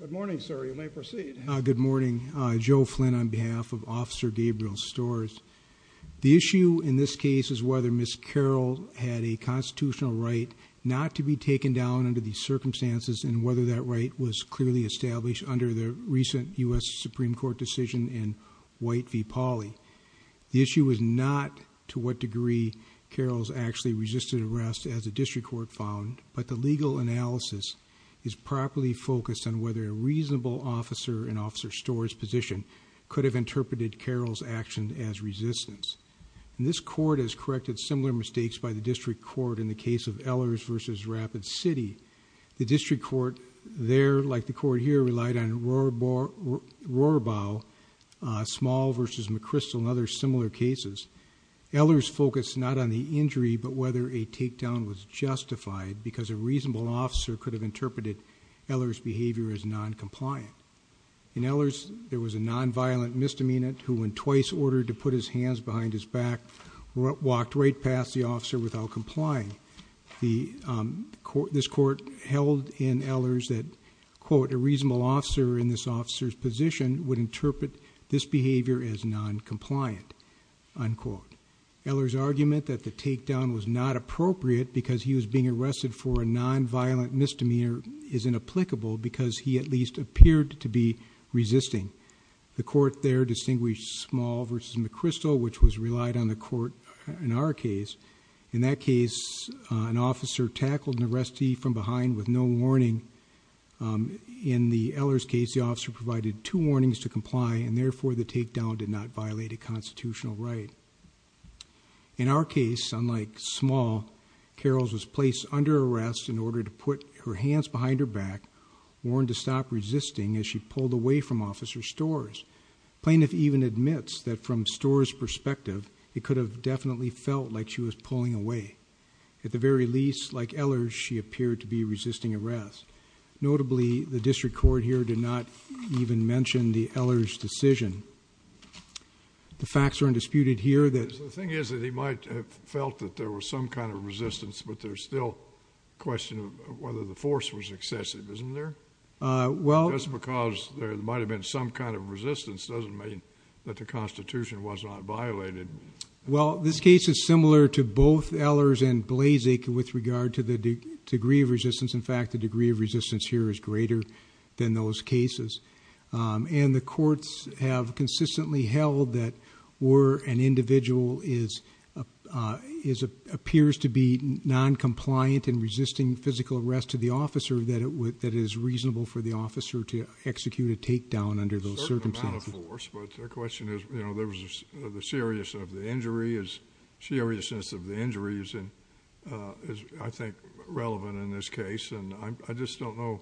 Good morning, sir. You may proceed. Good morning. Joe Flynn on behalf of Officer Gabriel Storz. The issue in this case is whether Ms. Karel had a constitutional right not to be taken down under these circumstances and whether that right was clearly established under the recent U.S. Supreme Court decision in White v. Pauley. The issue is not to what degree Karels actually resisted arrest as the district court found, but the legal analysis is properly focused on whether a reasonable officer in Officer Storz's position could have interpreted Karels' action as resistance. This court has corrected similar mistakes by the district court in the case of Ehlers v. Rapid City. The district court there, like the court here, relied on Rohrabau, Small v. McChrystal and other similar cases. Ehlers focused not on the injury but whether a takedown was justified because a reasonable officer could have interpreted Ehlers' behavior as noncompliant. In Ehlers, there was a nonviolent misdemeanant who, when twice ordered to put his hands behind his back, walked right past the officer without complying. A reasonable officer in this officer's position would interpret this behavior as noncompliant. Ehlers' argument that the takedown was not appropriate because he was being arrested for a nonviolent misdemeanor is inapplicable because he at least appeared to be resisting. The court there distinguished Small v. McChrystal, which was relied on the court in our case. In that case, an officer tackled an arrestee from behind with no warning. In the Ehlers case, the officer provided two warnings to comply, and therefore the takedown did not violate a constitutional right. In our case, unlike Small, Karels was placed under arrest in order to put her hands behind her back, warned to stop resisting as she pulled away from Officer Storrs. The plaintiff even admits that from Storrs' perspective, he could have definitely felt like she was pulling away. At the very least, like Ehlers, she appeared to be resisting arrest. Notably, the district court here did not even mention the Ehlers' decision. The facts are undisputed here. The thing is that he might have felt that there was some kind of resistance, but there's still a question of whether the force was excessive, isn't there? Just because there might have been some kind of resistance doesn't mean that the Constitution was not violated. Well, this case is similar to both Ehlers and Blazick with regard to the degree of resistance. In fact, the degree of resistance here is greater than those cases. And the courts have consistently held that where an individual appears to be noncompliant and resisting physical arrest to the officer, that it is reasonable for the officer to execute a takedown under those circumstances. A certain amount of force, but the question is, you know, the seriousness of the injury is, I think, relevant in this case. And I just don't know.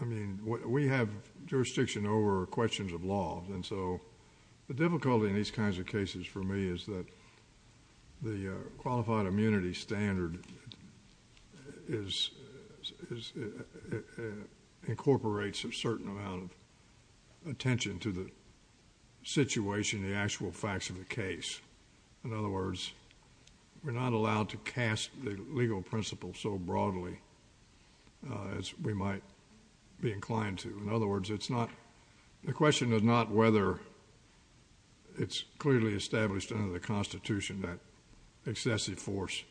I mean, we have jurisdiction over questions of law. The difficulty in these kinds of cases for me is that the qualified immunity standard incorporates a certain amount of attention to the situation, the actual facts of the case. In other words, we're not allowed to cast the legal principle so broadly as we might be inclined to. In other words, the question is not whether it's clearly established under the Constitution that excessive force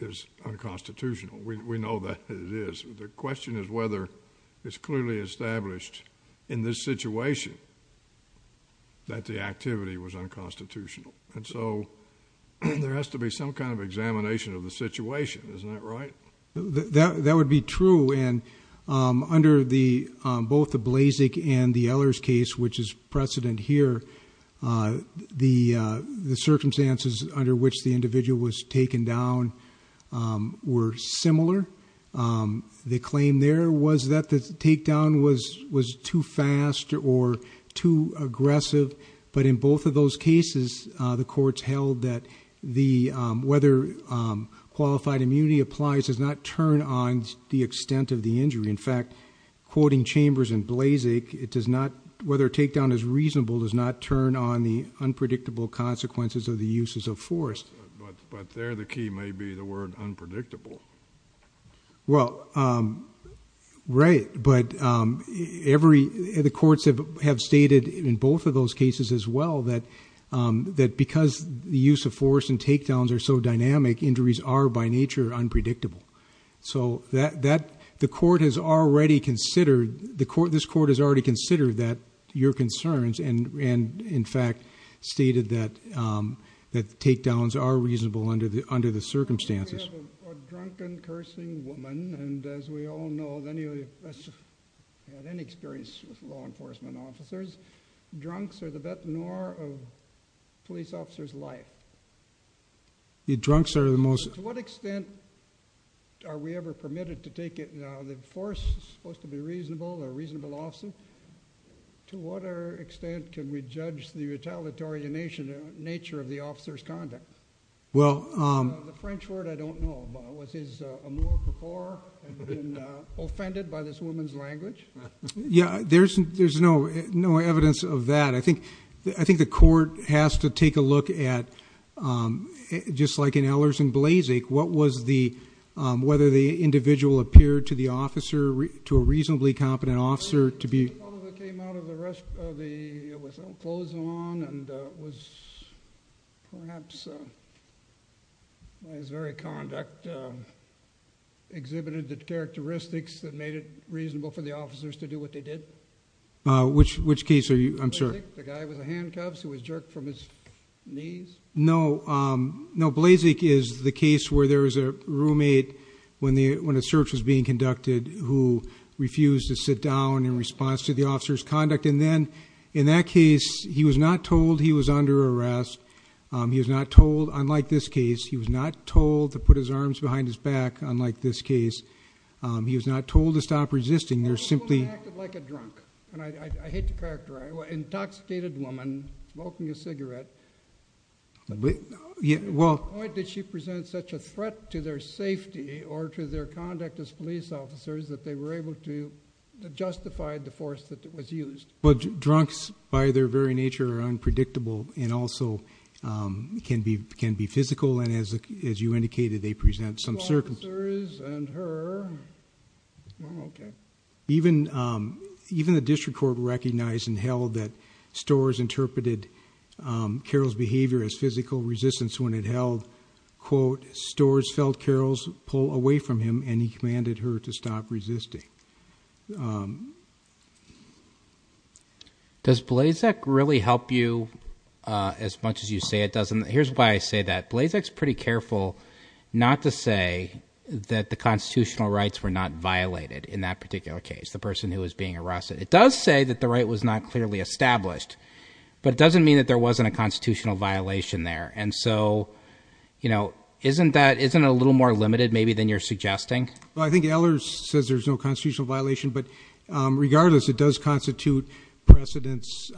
is unconstitutional. We know that it is. The question is whether it's clearly established in this situation that the activity was unconstitutional. And so there has to be some kind of examination of the situation. Isn't that right? That would be true. And under both the Blazek and the Ehlers case, which is precedent here, the circumstances under which the individual was taken down were similar. The claim there was that the takedown was too fast or too aggressive. But in both of those cases, the courts held that whether qualified immunity applies does not turn on the extent of the injury. In fact, quoting Chambers and Blazek, it does not, whether a takedown is reasonable, does not turn on the unpredictable consequences of the uses of force. But there the key may be the word unpredictable. Well, right. But the courts have stated in both of those cases as well that because the use of force and takedowns are so dynamic, injuries are by nature unpredictable. So the court has already considered, this court has already considered your concerns and in fact stated that takedowns are reasonable under the circumstances. I have a drunken, cursing woman. And as we all know, any of us who have any experience with law enforcement officers, drunks are the veteran of a police officer's life. Drunks are the most… To what extent are we ever permitted to take it, the force is supposed to be reasonable or a reasonable officer. To what extent can we judge the retaliatory nature of the officer's conduct? The French word I don't know. Was his amour before and been offended by this woman's language? Yeah, there's no evidence of that. I think the court has to take a look at, just like in Ehlers and Blazek, what was the, whether the individual appeared to the officer, to a reasonably competent officer to be… One of them came out of the rest of the, with clothes on and was perhaps, his very conduct exhibited the characteristics that made it reasonable for the officers to do what they did. Which case are you, I'm sorry? Blazek, the guy with the handcuffs who was jerked from his knees. No, Blazek is the case where there was a roommate when a search was being conducted who refused to sit down in response to the officer's conduct. And then, in that case, he was not told he was under arrest. He was not told, unlike this case, he was not told to put his arms behind his back, unlike this case. He was not told to stop resisting. They're simply… The woman acted like a drunk. And I hate to characterize it. An intoxicated woman, smoking a cigarette. Well… Why did she present such a threat to their safety or to their conduct as police officers that they were able to justify the force that was used? Well, drunks, by their very nature, are unpredictable and also can be physical, and as you indicated, they present some circumstances. Officers and her. Okay. Even the district court recognized and held that Storrs interpreted Carroll's behavior as physical resistance when it held, quote, Storrs felt Carroll's pull away from him, and he commanded her to stop resisting. Does Blazek really help you as much as you say it does? And here's why I say that. Blazek's pretty careful not to say that the constitutional rights were not violated in that particular case, the person who was being arrested. It does say that the right was not clearly established, but it doesn't mean that there wasn't a constitutional violation there. And so, you know, isn't that a little more limited maybe than you're suggesting? Well, I think Ehlers says there's no constitutional violation, but regardless, it does constitute precedence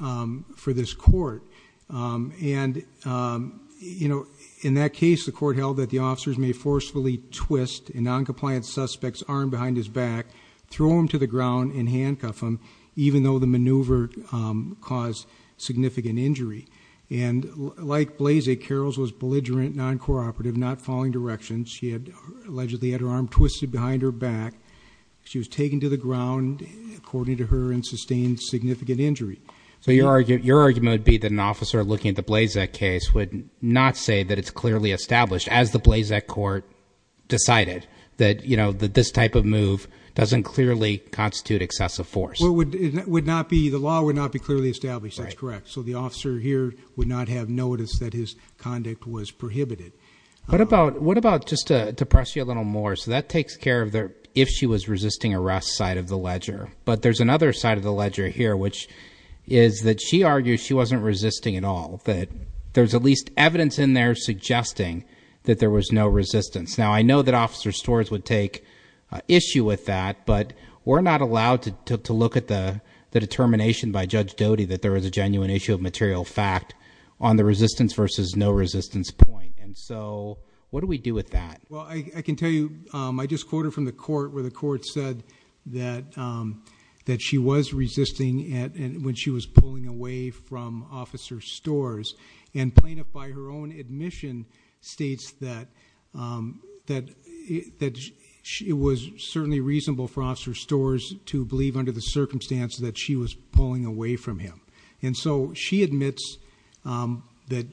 for this court. And, you know, in that case, the court held that the officers may forcefully twist a noncompliant suspect's arm behind his back, throw him to the ground, and handcuff him, even though the maneuver caused significant injury. And like Blazek, Carroll's was belligerent, noncooperative, not following directions. She allegedly had her arm twisted behind her back. She was taken to the ground, according to her, and sustained significant injury. So your argument would be that an officer looking at the Blazek case would not say that it's clearly established, as the Blazek court decided, that, you know, that this type of move doesn't clearly constitute excessive force. Well, it would not be, the law would not be clearly established. That's correct. So the officer here would not have noticed that his conduct was prohibited. What about, just to press you a little more, so that takes care of the if she was resisting arrest side of the ledger. But there's another side of the ledger here, which is that she argues she wasn't resisting at all, that there's at least evidence in there suggesting that there was no resistance. Now, I know that Officer Storrs would take issue with that, but we're not allowed to look at the determination by Judge Doty that there was a genuine issue of material fact on the resistance versus no resistance point. And so what do we do with that? Well, I can tell you, I just quoted from the court where the court said that she was resisting when she was pulling away from Officer Storrs. And Plaintiff, by her own admission, states that it was certainly reasonable for Officer Storrs to believe under the circumstance that she was pulling away from him. And so she admits that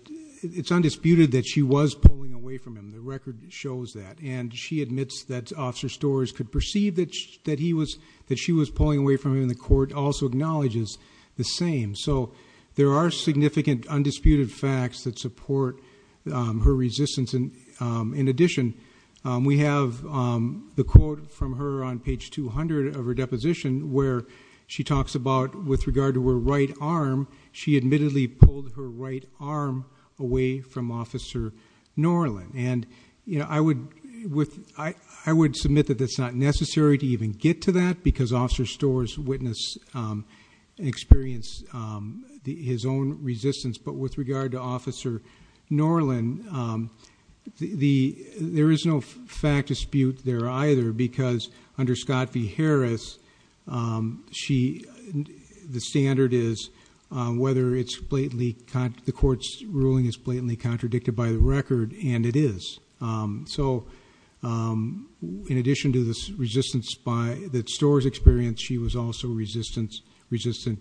it's undisputed that she was pulling away from him. The record shows that. And she admits that Officer Storrs could perceive that she was pulling away from him in the court, but the court also acknowledges the same. So there are significant undisputed facts that support her resistance. In addition, we have the quote from her on page 200 of her deposition where she talks about, with regard to her right arm, she admittedly pulled her right arm away from Officer Norland. And I would submit that it's not necessary to even get to that because Officer Storrs witnessed and experienced his own resistance. But with regard to Officer Norland, there is no fact dispute there either because under Scott v. Harris, the standard is whether the court's ruling is blatantly contradicted by the record. And it is. So in addition to the resistance that Storrs experienced, she was also resistant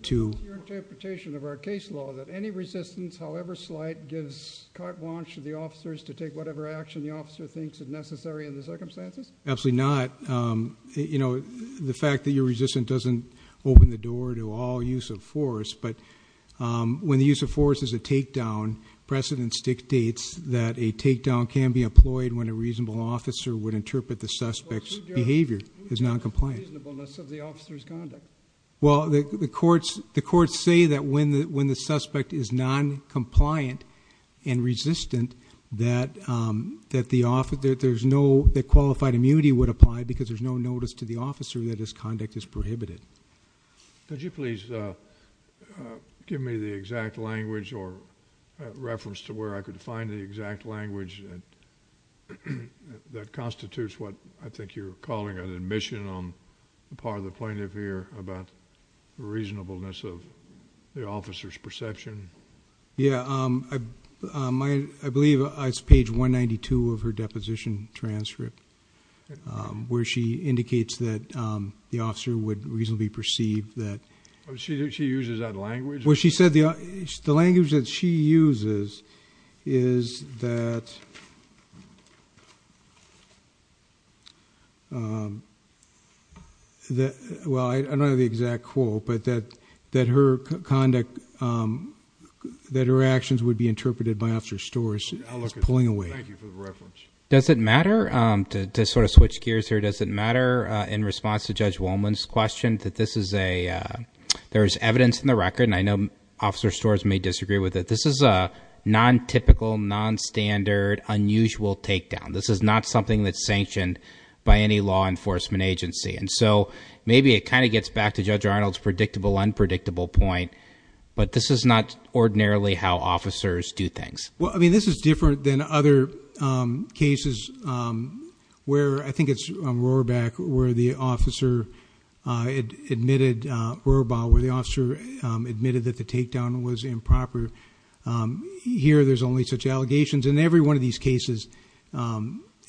to Is your interpretation of our case law that any resistance, however slight, gives carte blanche to the officers to take whatever action the officer thinks is necessary in the circumstances? Absolutely not. The fact that you're resistant doesn't open the door to all use of force. But when the use of force is a takedown, precedence dictates that a takedown can be employed when a reasonable officer would interpret the suspect's behavior as noncompliant. Who judges the reasonableness of the officer's conduct? Well, the courts say that when the suspect is noncompliant and resistant, that qualified immunity would apply because there's no notice to the officer that his conduct is prohibited. Could you please give me the exact language or reference to where I could find the exact language that constitutes what I think you're calling an admission on the part of the plaintiff here about reasonableness of the officer's perception? Yeah. I believe it's page 192 of her deposition transcript where she indicates that the officer would reasonably perceive that. She uses that language? Well, she said the language that she uses is that, well, I don't have the exact quote, but that her conduct, that her actions would be interpreted by Officer Storrs is pulling away. Thank you for the reference. Does it matter, to sort of switch gears here, does it matter in response to Judge Wolman's question that this is a, there is evidence in the record, and I know Officer Storrs may disagree with it, this is a non-typical, non-standard, unusual takedown. This is not something that's sanctioned by any law enforcement agency. And so maybe it kind of gets back to Judge Arnold's predictable, unpredictable point, but this is not ordinarily how officers do things. Well, I mean, this is different than other cases where, I think it's on Rohrbach where the officer admitted, Rohrbach where the officer admitted that the takedown was improper. Here there's only such allegations. In every one of these cases,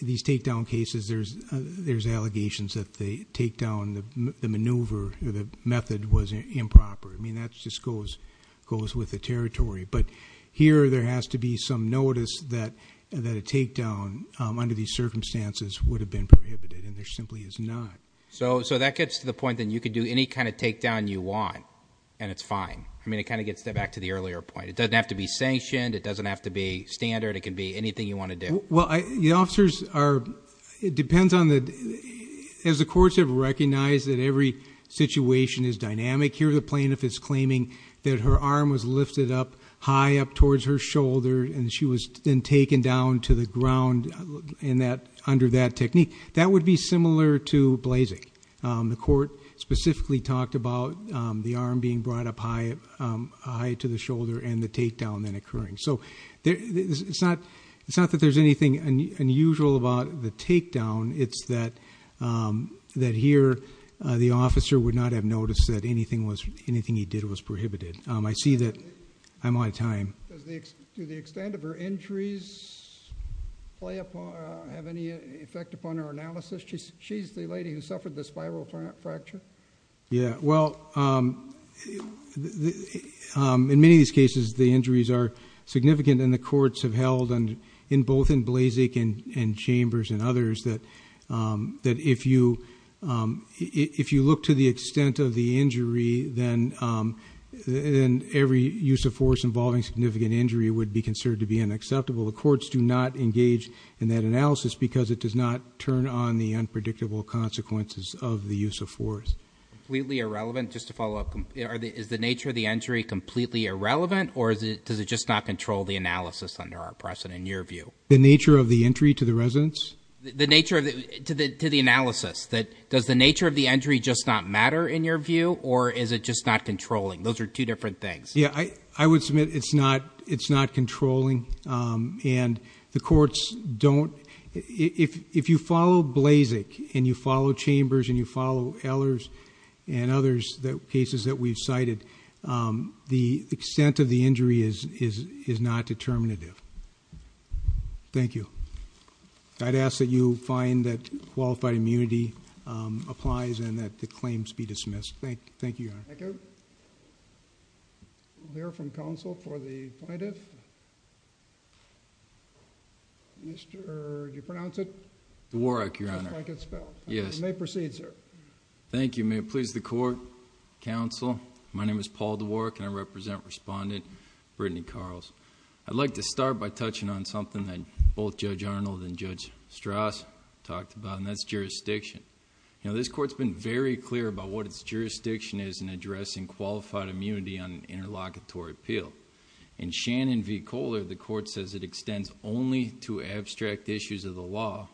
these takedown cases, there's allegations that the takedown, the maneuver, the method was improper. I mean, that just goes with the territory. But here there has to be some notice that a takedown, under these circumstances, would have been prohibited, and there simply is not. So that gets to the point that you can do any kind of takedown you want, and it's fine. I mean, it kind of gets back to the earlier point. It doesn't have to be sanctioned. It doesn't have to be standard. It can be anything you want to do. Well, the officers are, it depends on the, as the courts have recognized that every situation is dynamic, here the plaintiff is claiming that her arm was lifted up high up towards her shoulder, and she was then taken down to the ground under that technique. That would be similar to blazing. The court specifically talked about the arm being brought up high to the shoulder and the takedown then occurring. So it's not that there's anything unusual about the takedown. It's that here the officer would not have noticed that anything he did was prohibited. I see that I'm out of time. Do the extent of her injuries have any effect upon her analysis? She's the lady who suffered the spiral fracture. Yeah, well, in many of these cases the injuries are significant, and the courts have held, both in Blazek and Chambers and others, that if you look to the extent of the injury, then every use of force involving significant injury would be considered to be unacceptable. The courts do not engage in that analysis because it does not turn on the unpredictable consequences of the use of force. Completely irrelevant, just to follow up, is the nature of the injury completely irrelevant, or does it just not control the analysis under our precedent, in your view? The nature of the entry to the residence? To the analysis. Does the nature of the injury just not matter, in your view, or is it just not controlling? Those are two different things. Yeah, I would submit it's not controlling, and the courts don't. If you follow Blazek and you follow Chambers and you follow Ehlers and others, the cases that we've cited, the extent of the injury is not determinative. Thank you. I'd ask that you find that qualified immunity applies and that the claims be dismissed. Thank you, Your Honor. Thank you. We'll hear from counsel for the plaintiff. Mr.... do you pronounce it? Dworak, Your Honor. Just like it's spelled. Yes. You may proceed, sir. Thank you. May it please the Court, Counsel, my name is Paul Dworak, and I represent Respondent Brittany Carls. I'd like to start by touching on something that both Judge Arnold and Judge Strauss talked about, and that's jurisdiction. This Court's been very clear about what its jurisdiction is in addressing qualified immunity on an interlocutory appeal. In Shannon v. Kohler, the Court says it extends only to abstract issues of the law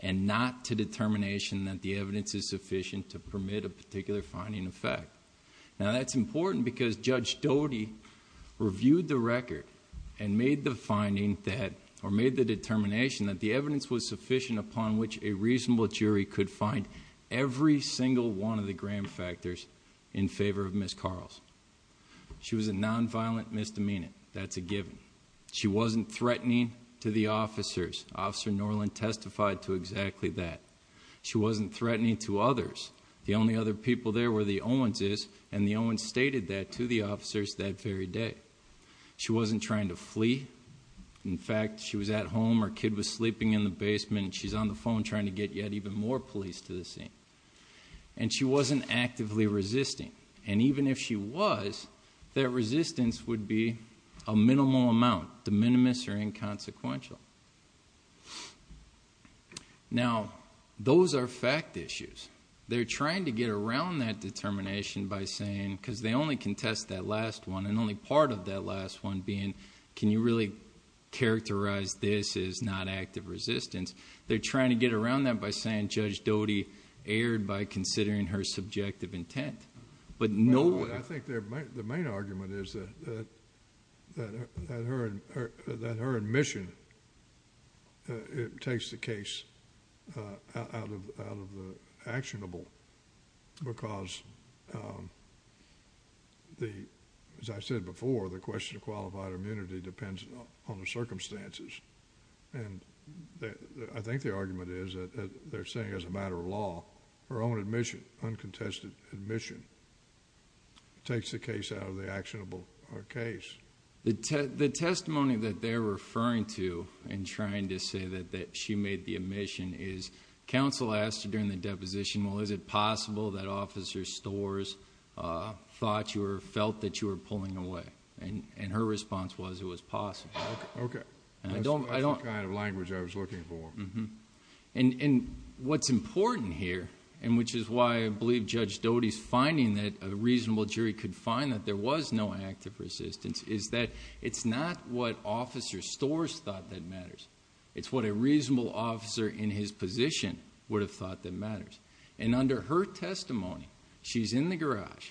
and not to determination that the evidence is sufficient to permit a particular finding of fact. Now, that's important because Judge Doty reviewed the record and made the finding that... or made the determination that the evidence was sufficient upon which a reasonable jury could find every single one of the gram factors in favor of Ms. Carls. She was a nonviolent misdemeanor. That's a given. She wasn't threatening to the officers. Officer Norland testified to exactly that. She wasn't threatening to others. The only other people there were the Owenses, and the Owens stated that to the officers that very day. She wasn't trying to flee. In fact, she was at home, her kid was sleeping in the basement, and she's on the phone trying to get yet even more police to the scene. And she wasn't actively resisting. And even if she was, that resistance would be a minimal amount, de minimis or inconsequential. Now, those are fact issues. They're trying to get around that determination by saying... because they only contest that last one, and only part of that last one being, can you really characterize this as not active resistance? They're trying to get around that by saying Judge Doty erred by considering her subjective intent. But no... I think the main argument is that her admission takes the case out of the actionable, because, as I said before, the question of qualified immunity depends on the circumstances. And I think the argument is that they're saying as a matter of law, her own admission, uncontested admission, takes the case out of the actionable case. The testimony that they're referring to in trying to say that she made the admission is, counsel asked her during the deposition, well, is it possible that Officer Storrs thought you or felt that you were pulling away? And her response was, it was possible. Okay. That's the kind of language I was looking for. And what's important here, and which is why I believe Judge Doty's finding that a reasonable jury could find that there was no active resistance, is that it's not what Officer Storrs thought that matters. It's what a reasonable officer in his position would have thought that matters. And under her testimony, she's in the garage.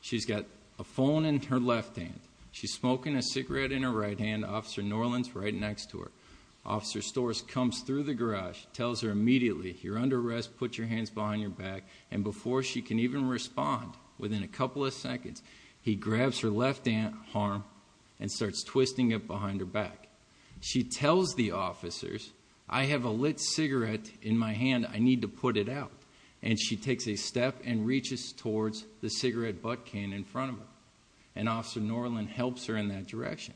She's got a phone in her left hand. She's smoking a cigarette in her right hand. Officer Norland's right next to her. Officer Storrs comes through the garage, tells her immediately, you're under arrest, put your hands behind your back. And before she can even respond, within a couple of seconds, he grabs her left arm and starts twisting it behind her back. She tells the officers, I have a lit cigarette in my hand. I need to put it out. And she takes a step and reaches towards the cigarette butt can in front of her. And Officer Norland helps her in that direction.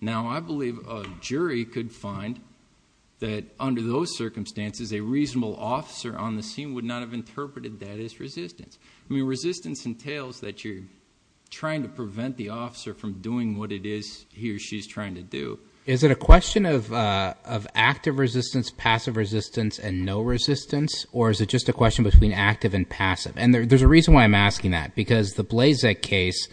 Now, I believe a jury could find that under those circumstances, a reasonable officer on the scene would not have interpreted that as resistance. I mean, resistance entails that you're trying to prevent the officer from doing what it is he or she's trying to do. Is it a question of active resistance, passive resistance, and no resistance? Or is it just a question between active and passive? And there's a reason why I'm asking that. Because the Blazek case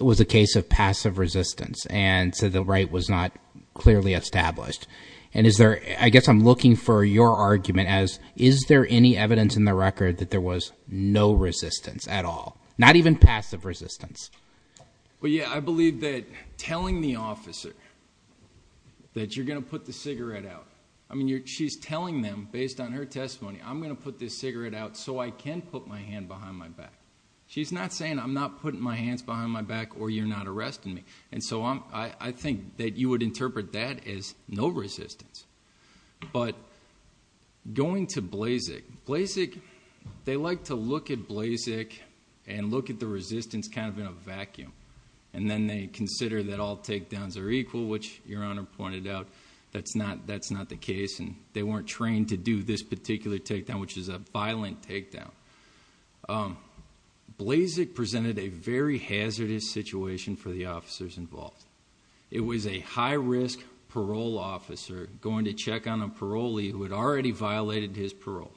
was a case of passive resistance, and so the right was not clearly established. And I guess I'm looking for your argument as, is there any evidence in the record that there was no resistance at all? Not even passive resistance. Well, yeah, I believe that telling the officer that you're going to put the cigarette out. I mean, she's telling them, based on her testimony, I'm going to put this cigarette out so I can put my hand behind my back. She's not saying I'm not putting my hands behind my back or you're not arresting me. And so I think that you would interpret that as no resistance. But going to Blazek, they like to look at Blazek and look at the resistance kind of in a vacuum. And then they consider that all takedowns are equal, which Your Honor pointed out, that's not the case. And they weren't trained to do this particular takedown, which is a violent takedown. Blazek presented a very hazardous situation for the officers involved. It was a high-risk parole officer going to check on a parolee who had already violated his parole.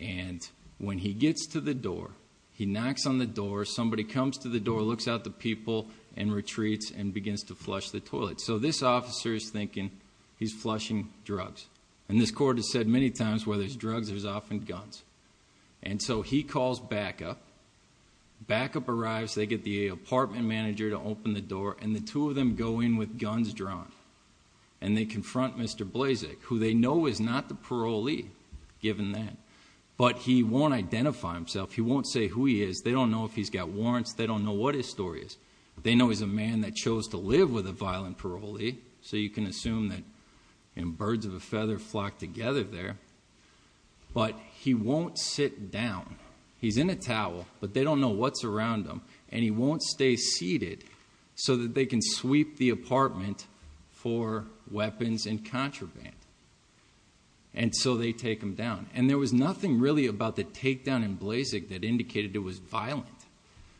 And when he gets to the door, he knocks on the door, somebody comes to the door, looks out the people and retreats and begins to flush the toilet. So this officer is thinking he's flushing drugs. And this court has said many times where there's drugs, there's often guns. And so he calls backup. Backup arrives, they get the apartment manager to open the door, and the two of them go in with guns drawn. And they confront Mr. Blazek, who they know is not the parolee, given that. But he won't identify himself. He won't say who he is. They don't know if he's got warrants. They don't know what his story is. They know he's a man that chose to live with a violent parolee, so you can assume that birds of a feather flock together there. But he won't sit down. He's in a towel, but they don't know what's around him. And he won't stay seated so that they can sweep the apartment for weapons and contraband. And so they take him down. And there was nothing really about the takedown in Blazek that indicated it was violent.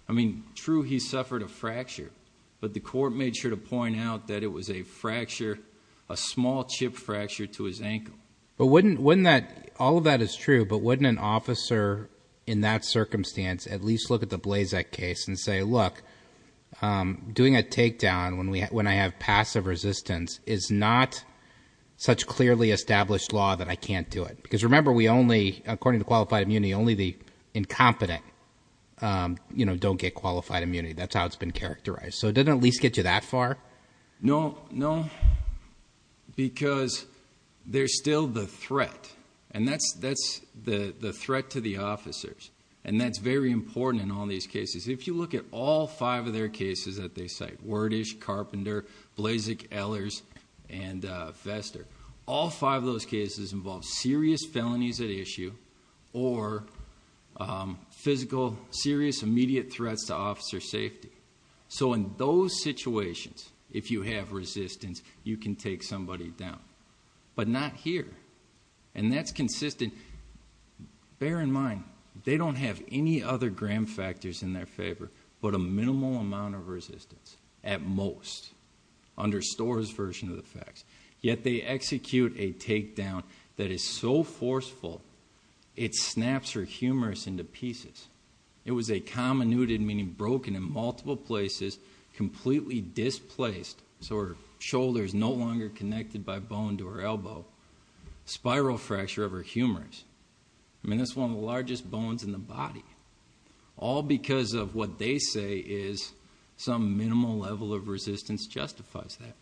I mean, true, he suffered a fracture. But the court made sure to point out that it was a fracture, a small chip fracture to his ankle. But wouldn't that, all of that is true, but wouldn't an officer in that circumstance at least look at the Blazek case and say, look, doing a takedown when I have passive resistance is not such clearly established law that I can't do it. Because remember, we only, according to qualified immunity, only the incompetent don't get qualified immunity. That's how it's been characterized. So it doesn't at least get you that far? No, no, because there's still the threat, and that's the threat to the officers. And that's very important in all these cases. If you look at all five of their cases that they cite, Wordish, Carpenter, Blazek, Ehlers, and Vester, all five of those cases involve serious felonies at issue or physical, serious, immediate threats to officer safety. So in those situations, if you have resistance, you can take somebody down. But not here. And that's consistent. Bear in mind, they don't have any other gram factors in their favor but a minimal amount of resistance, at most, under Storer's version of the facts. Yet they execute a takedown that is so forceful, it snaps her humerus into pieces. It was a comminuted, meaning broken in multiple places, completely displaced, so her shoulder is no longer connected by bone to her elbow, spiral fracture of her humerus. I mean, that's one of the largest bones in the body. All because of what they say is some minimal level of resistance justifies that.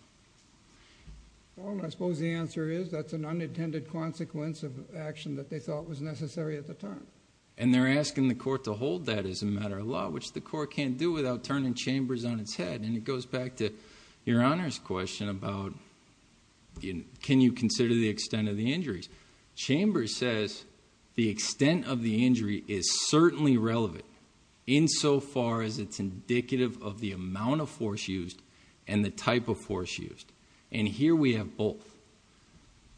Well, I suppose the answer is that's an unintended consequence of action that they thought was necessary at the time. And they're asking the court to hold that as a matter of law, which the court can't do without turning Chambers on its head. And it goes back to Your Honor's question about can you consider the extent of the injuries. Chambers says the extent of the injury is certainly relevant, insofar as it's indicative of the amount of force used and the type of force used. And here we have both.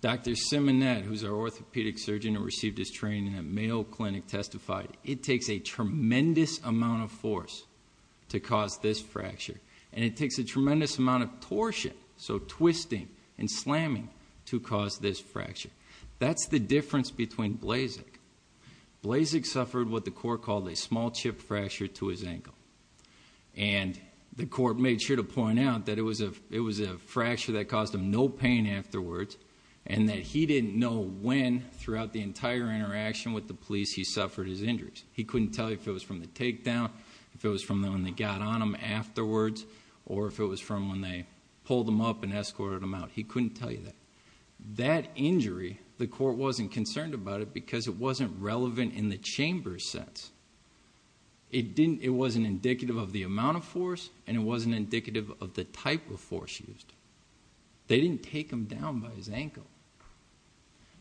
Dr. Simonet, who's our orthopedic surgeon and received his training at Mayo Clinic, testified, it takes a tremendous amount of force to cause this fracture. And it takes a tremendous amount of torsion, so twisting and slamming, to cause this fracture. That's the difference between Blazek. Blazek suffered what the court called a small chip fracture to his ankle. And the court made sure to point out that it was a fracture that caused him no pain afterwards. And that he didn't know when, throughout the entire interaction with the police, he suffered his injuries. He couldn't tell you if it was from the takedown, if it was from when they got on him afterwards, or if it was from when they pulled him up and escorted him out. He couldn't tell you that. That injury, the court wasn't concerned about it because it wasn't relevant in the chamber sense. It wasn't indicative of the amount of force, and it wasn't indicative of the type of force used. They didn't take him down by his ankle.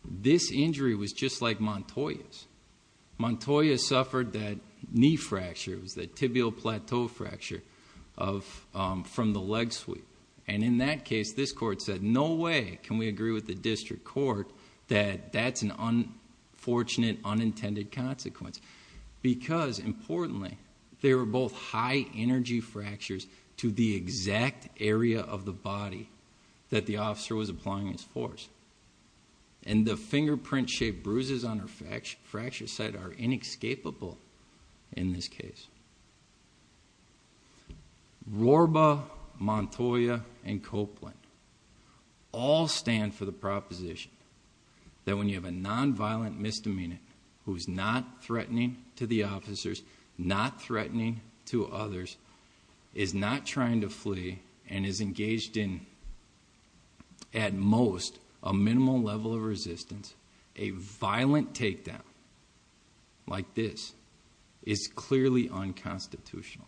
This injury was just like Montoya's. Montoya suffered that knee fracture, that tibial plateau fracture from the leg sweep. And in that case, this court said, no way can we agree with the district court that that's an unfortunate, unintended consequence. Because, importantly, they were both high-energy fractures to the exact area of the body that the officer was applying his force. And the fingerprint-shaped bruises on her fracture site are inescapable in this case. Rorba, Montoya, and Copeland all stand for the proposition that when you have a nonviolent misdemeanor who's not threatening to the officers, not threatening to others, is not trying to flee, and is engaged in, at most, a minimal level of resistance, a violent takedown like this is clearly unconstitutional.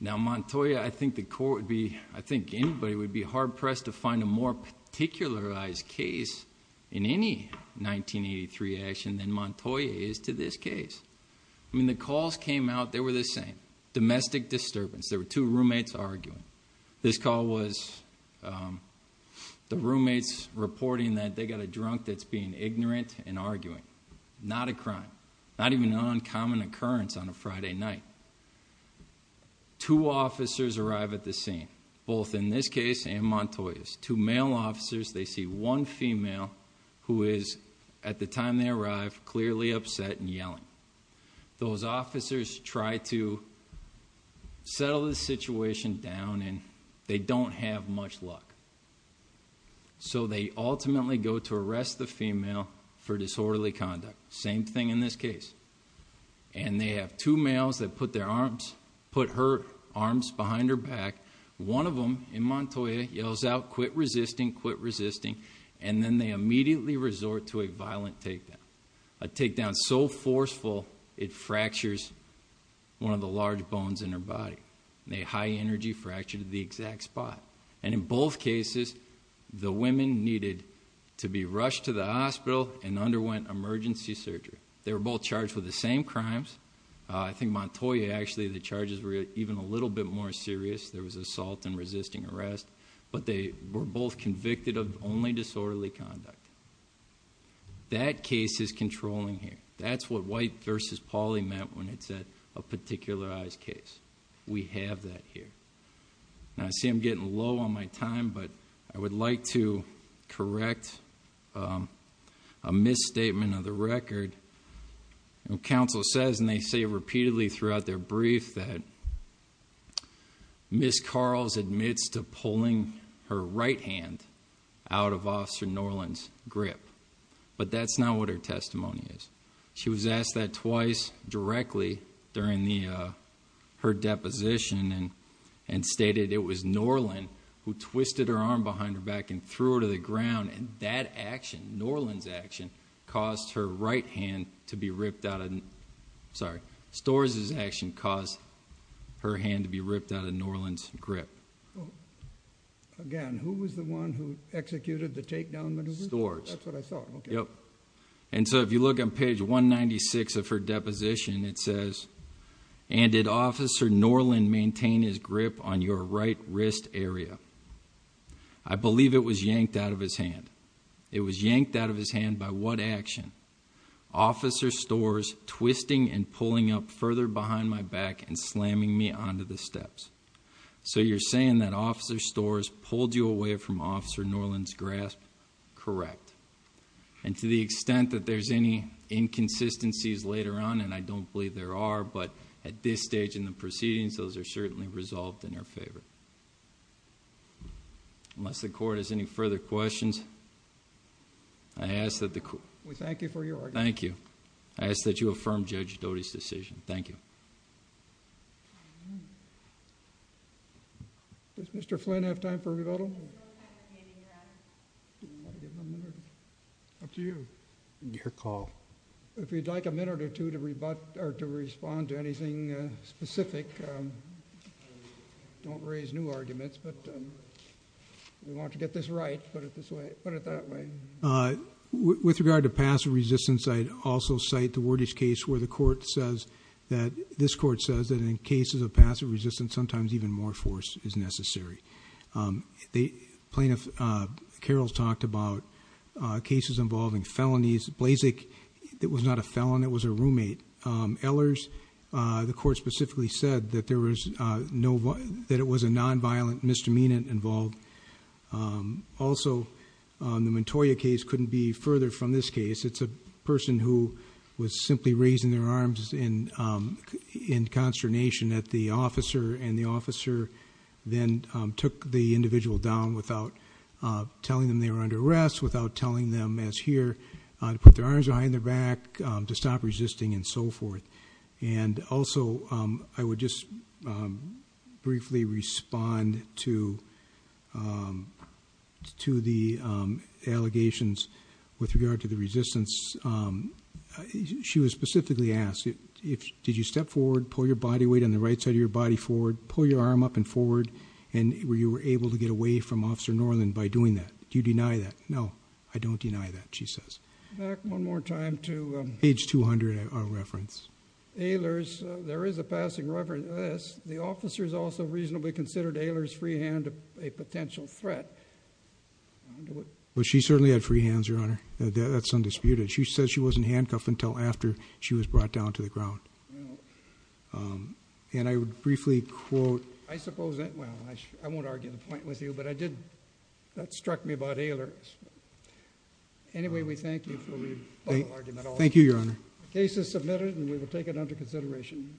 Now, Montoya, I think anybody would be hard-pressed to find a more particularized case in any 1983 action than Montoya is to this case. I mean, the calls came out, they were the same. Domestic disturbance. There were two roommates arguing. This call was the roommates reporting that they got a drunk that's being ignorant and arguing. Not a crime. Not even an uncommon occurrence on a Friday night. Two officers arrive at the scene, both in this case and Montoya's. Two male officers, they see one female who is, at the time they arrive, clearly upset and yelling. Those officers try to settle the situation down, and they don't have much luck. So they ultimately go to arrest the female for disorderly conduct. Same thing in this case. And they have two males that put her arms behind her back. One of them, in Montoya, yells out, quit resisting, quit resisting, and then they immediately resort to a violent takedown. A takedown so forceful, it fractures one of the large bones in her body. A high-energy fracture to the exact spot. And in both cases, the women needed to be rushed to the hospital and underwent emergency surgery. They were both charged with the same crimes. I think Montoya, actually, the charges were even a little bit more serious. There was assault and resisting arrest. But they were both convicted of only disorderly conduct. That case is controlling here. That's what White v. Pauley meant when it said a particularized case. We have that here. Now, I see I'm getting low on my time, but I would like to correct a misstatement of the record. Counsel says, and they say it repeatedly throughout their brief, that Ms. Carls admits to pulling her right hand out of Officer Norland's grip. But that's not what her testimony is. She was asked that twice directly during her deposition and stated it was Norland who twisted her arm behind her back and threw her to the ground. And that action, Norland's action, caused her right hand to be ripped out. Sorry, Storrs' action caused her hand to be ripped out of Norland's grip. Again, who was the one who executed the takedown maneuver? Storrs. That's what I saw. Yep. And so if you look on page 196 of her deposition, it says, and did Officer Norland maintain his grip on your right wrist area? I believe it was yanked out of his hand. It was yanked out of his hand by what action? Officer Storrs twisting and pulling up further behind my back and slamming me onto the steps. So you're saying that Officer Storrs pulled you away from Officer Norland's grasp? Correct. And to the extent that there's any inconsistencies later on, and I don't believe there are, but at this stage in the proceedings, those are certainly resolved in her favor. Unless the Court has any further questions, I ask that the Court... We thank you for your argument. Thank you. I ask that you affirm Judge Doty's decision. Thank you. Does Mr. Flynn have time for rebuttal? Up to you. Your call. If you'd like a minute or two to respond to anything specific, don't raise new arguments, but if you want to get this right, put it that way. With regard to passive resistance, I'd also cite the Wordish case where the Court says that... this Court says that in cases of passive resistance, sometimes even more force is necessary. Plaintiff Carroll talked about cases involving felonies. Blazek was not a felon. It was a roommate. Ehlers, the Court specifically said that it was a nonviolent misdemeanant involved. Also, the Montoya case couldn't be further from this case. It's a person who was simply raising their arms in consternation at the officer, and the officer then took the individual down without telling them they were under arrest, without telling them, as here, to put their arms behind their back, to stop resisting, and so forth. And also, I would just briefly respond to the allegations with regard to the resistance. She was specifically asked, did you step forward, pull your body weight on the right side of your body forward, pull your arm up and forward, and were you able to get away from Officer Norland by doing that? Do you deny that? No, I don't deny that, she says. Back one more time to... Page 200, our reference. Ehlers, there is a passing reference to this. The officers also reasonably considered Ehlers' free hand a potential threat. Well, she certainly had free hands, Your Honor. That's undisputed. She says she wasn't handcuffed until after she was brought down to the ground. And I would briefly quote... I suppose that... well, I won't argue the point with you, but I did... that struck me about Ehlers. Anyway, we thank you for your thoughtful argument. Thank you, Your Honor. The case is submitted, and we will take it under consideration.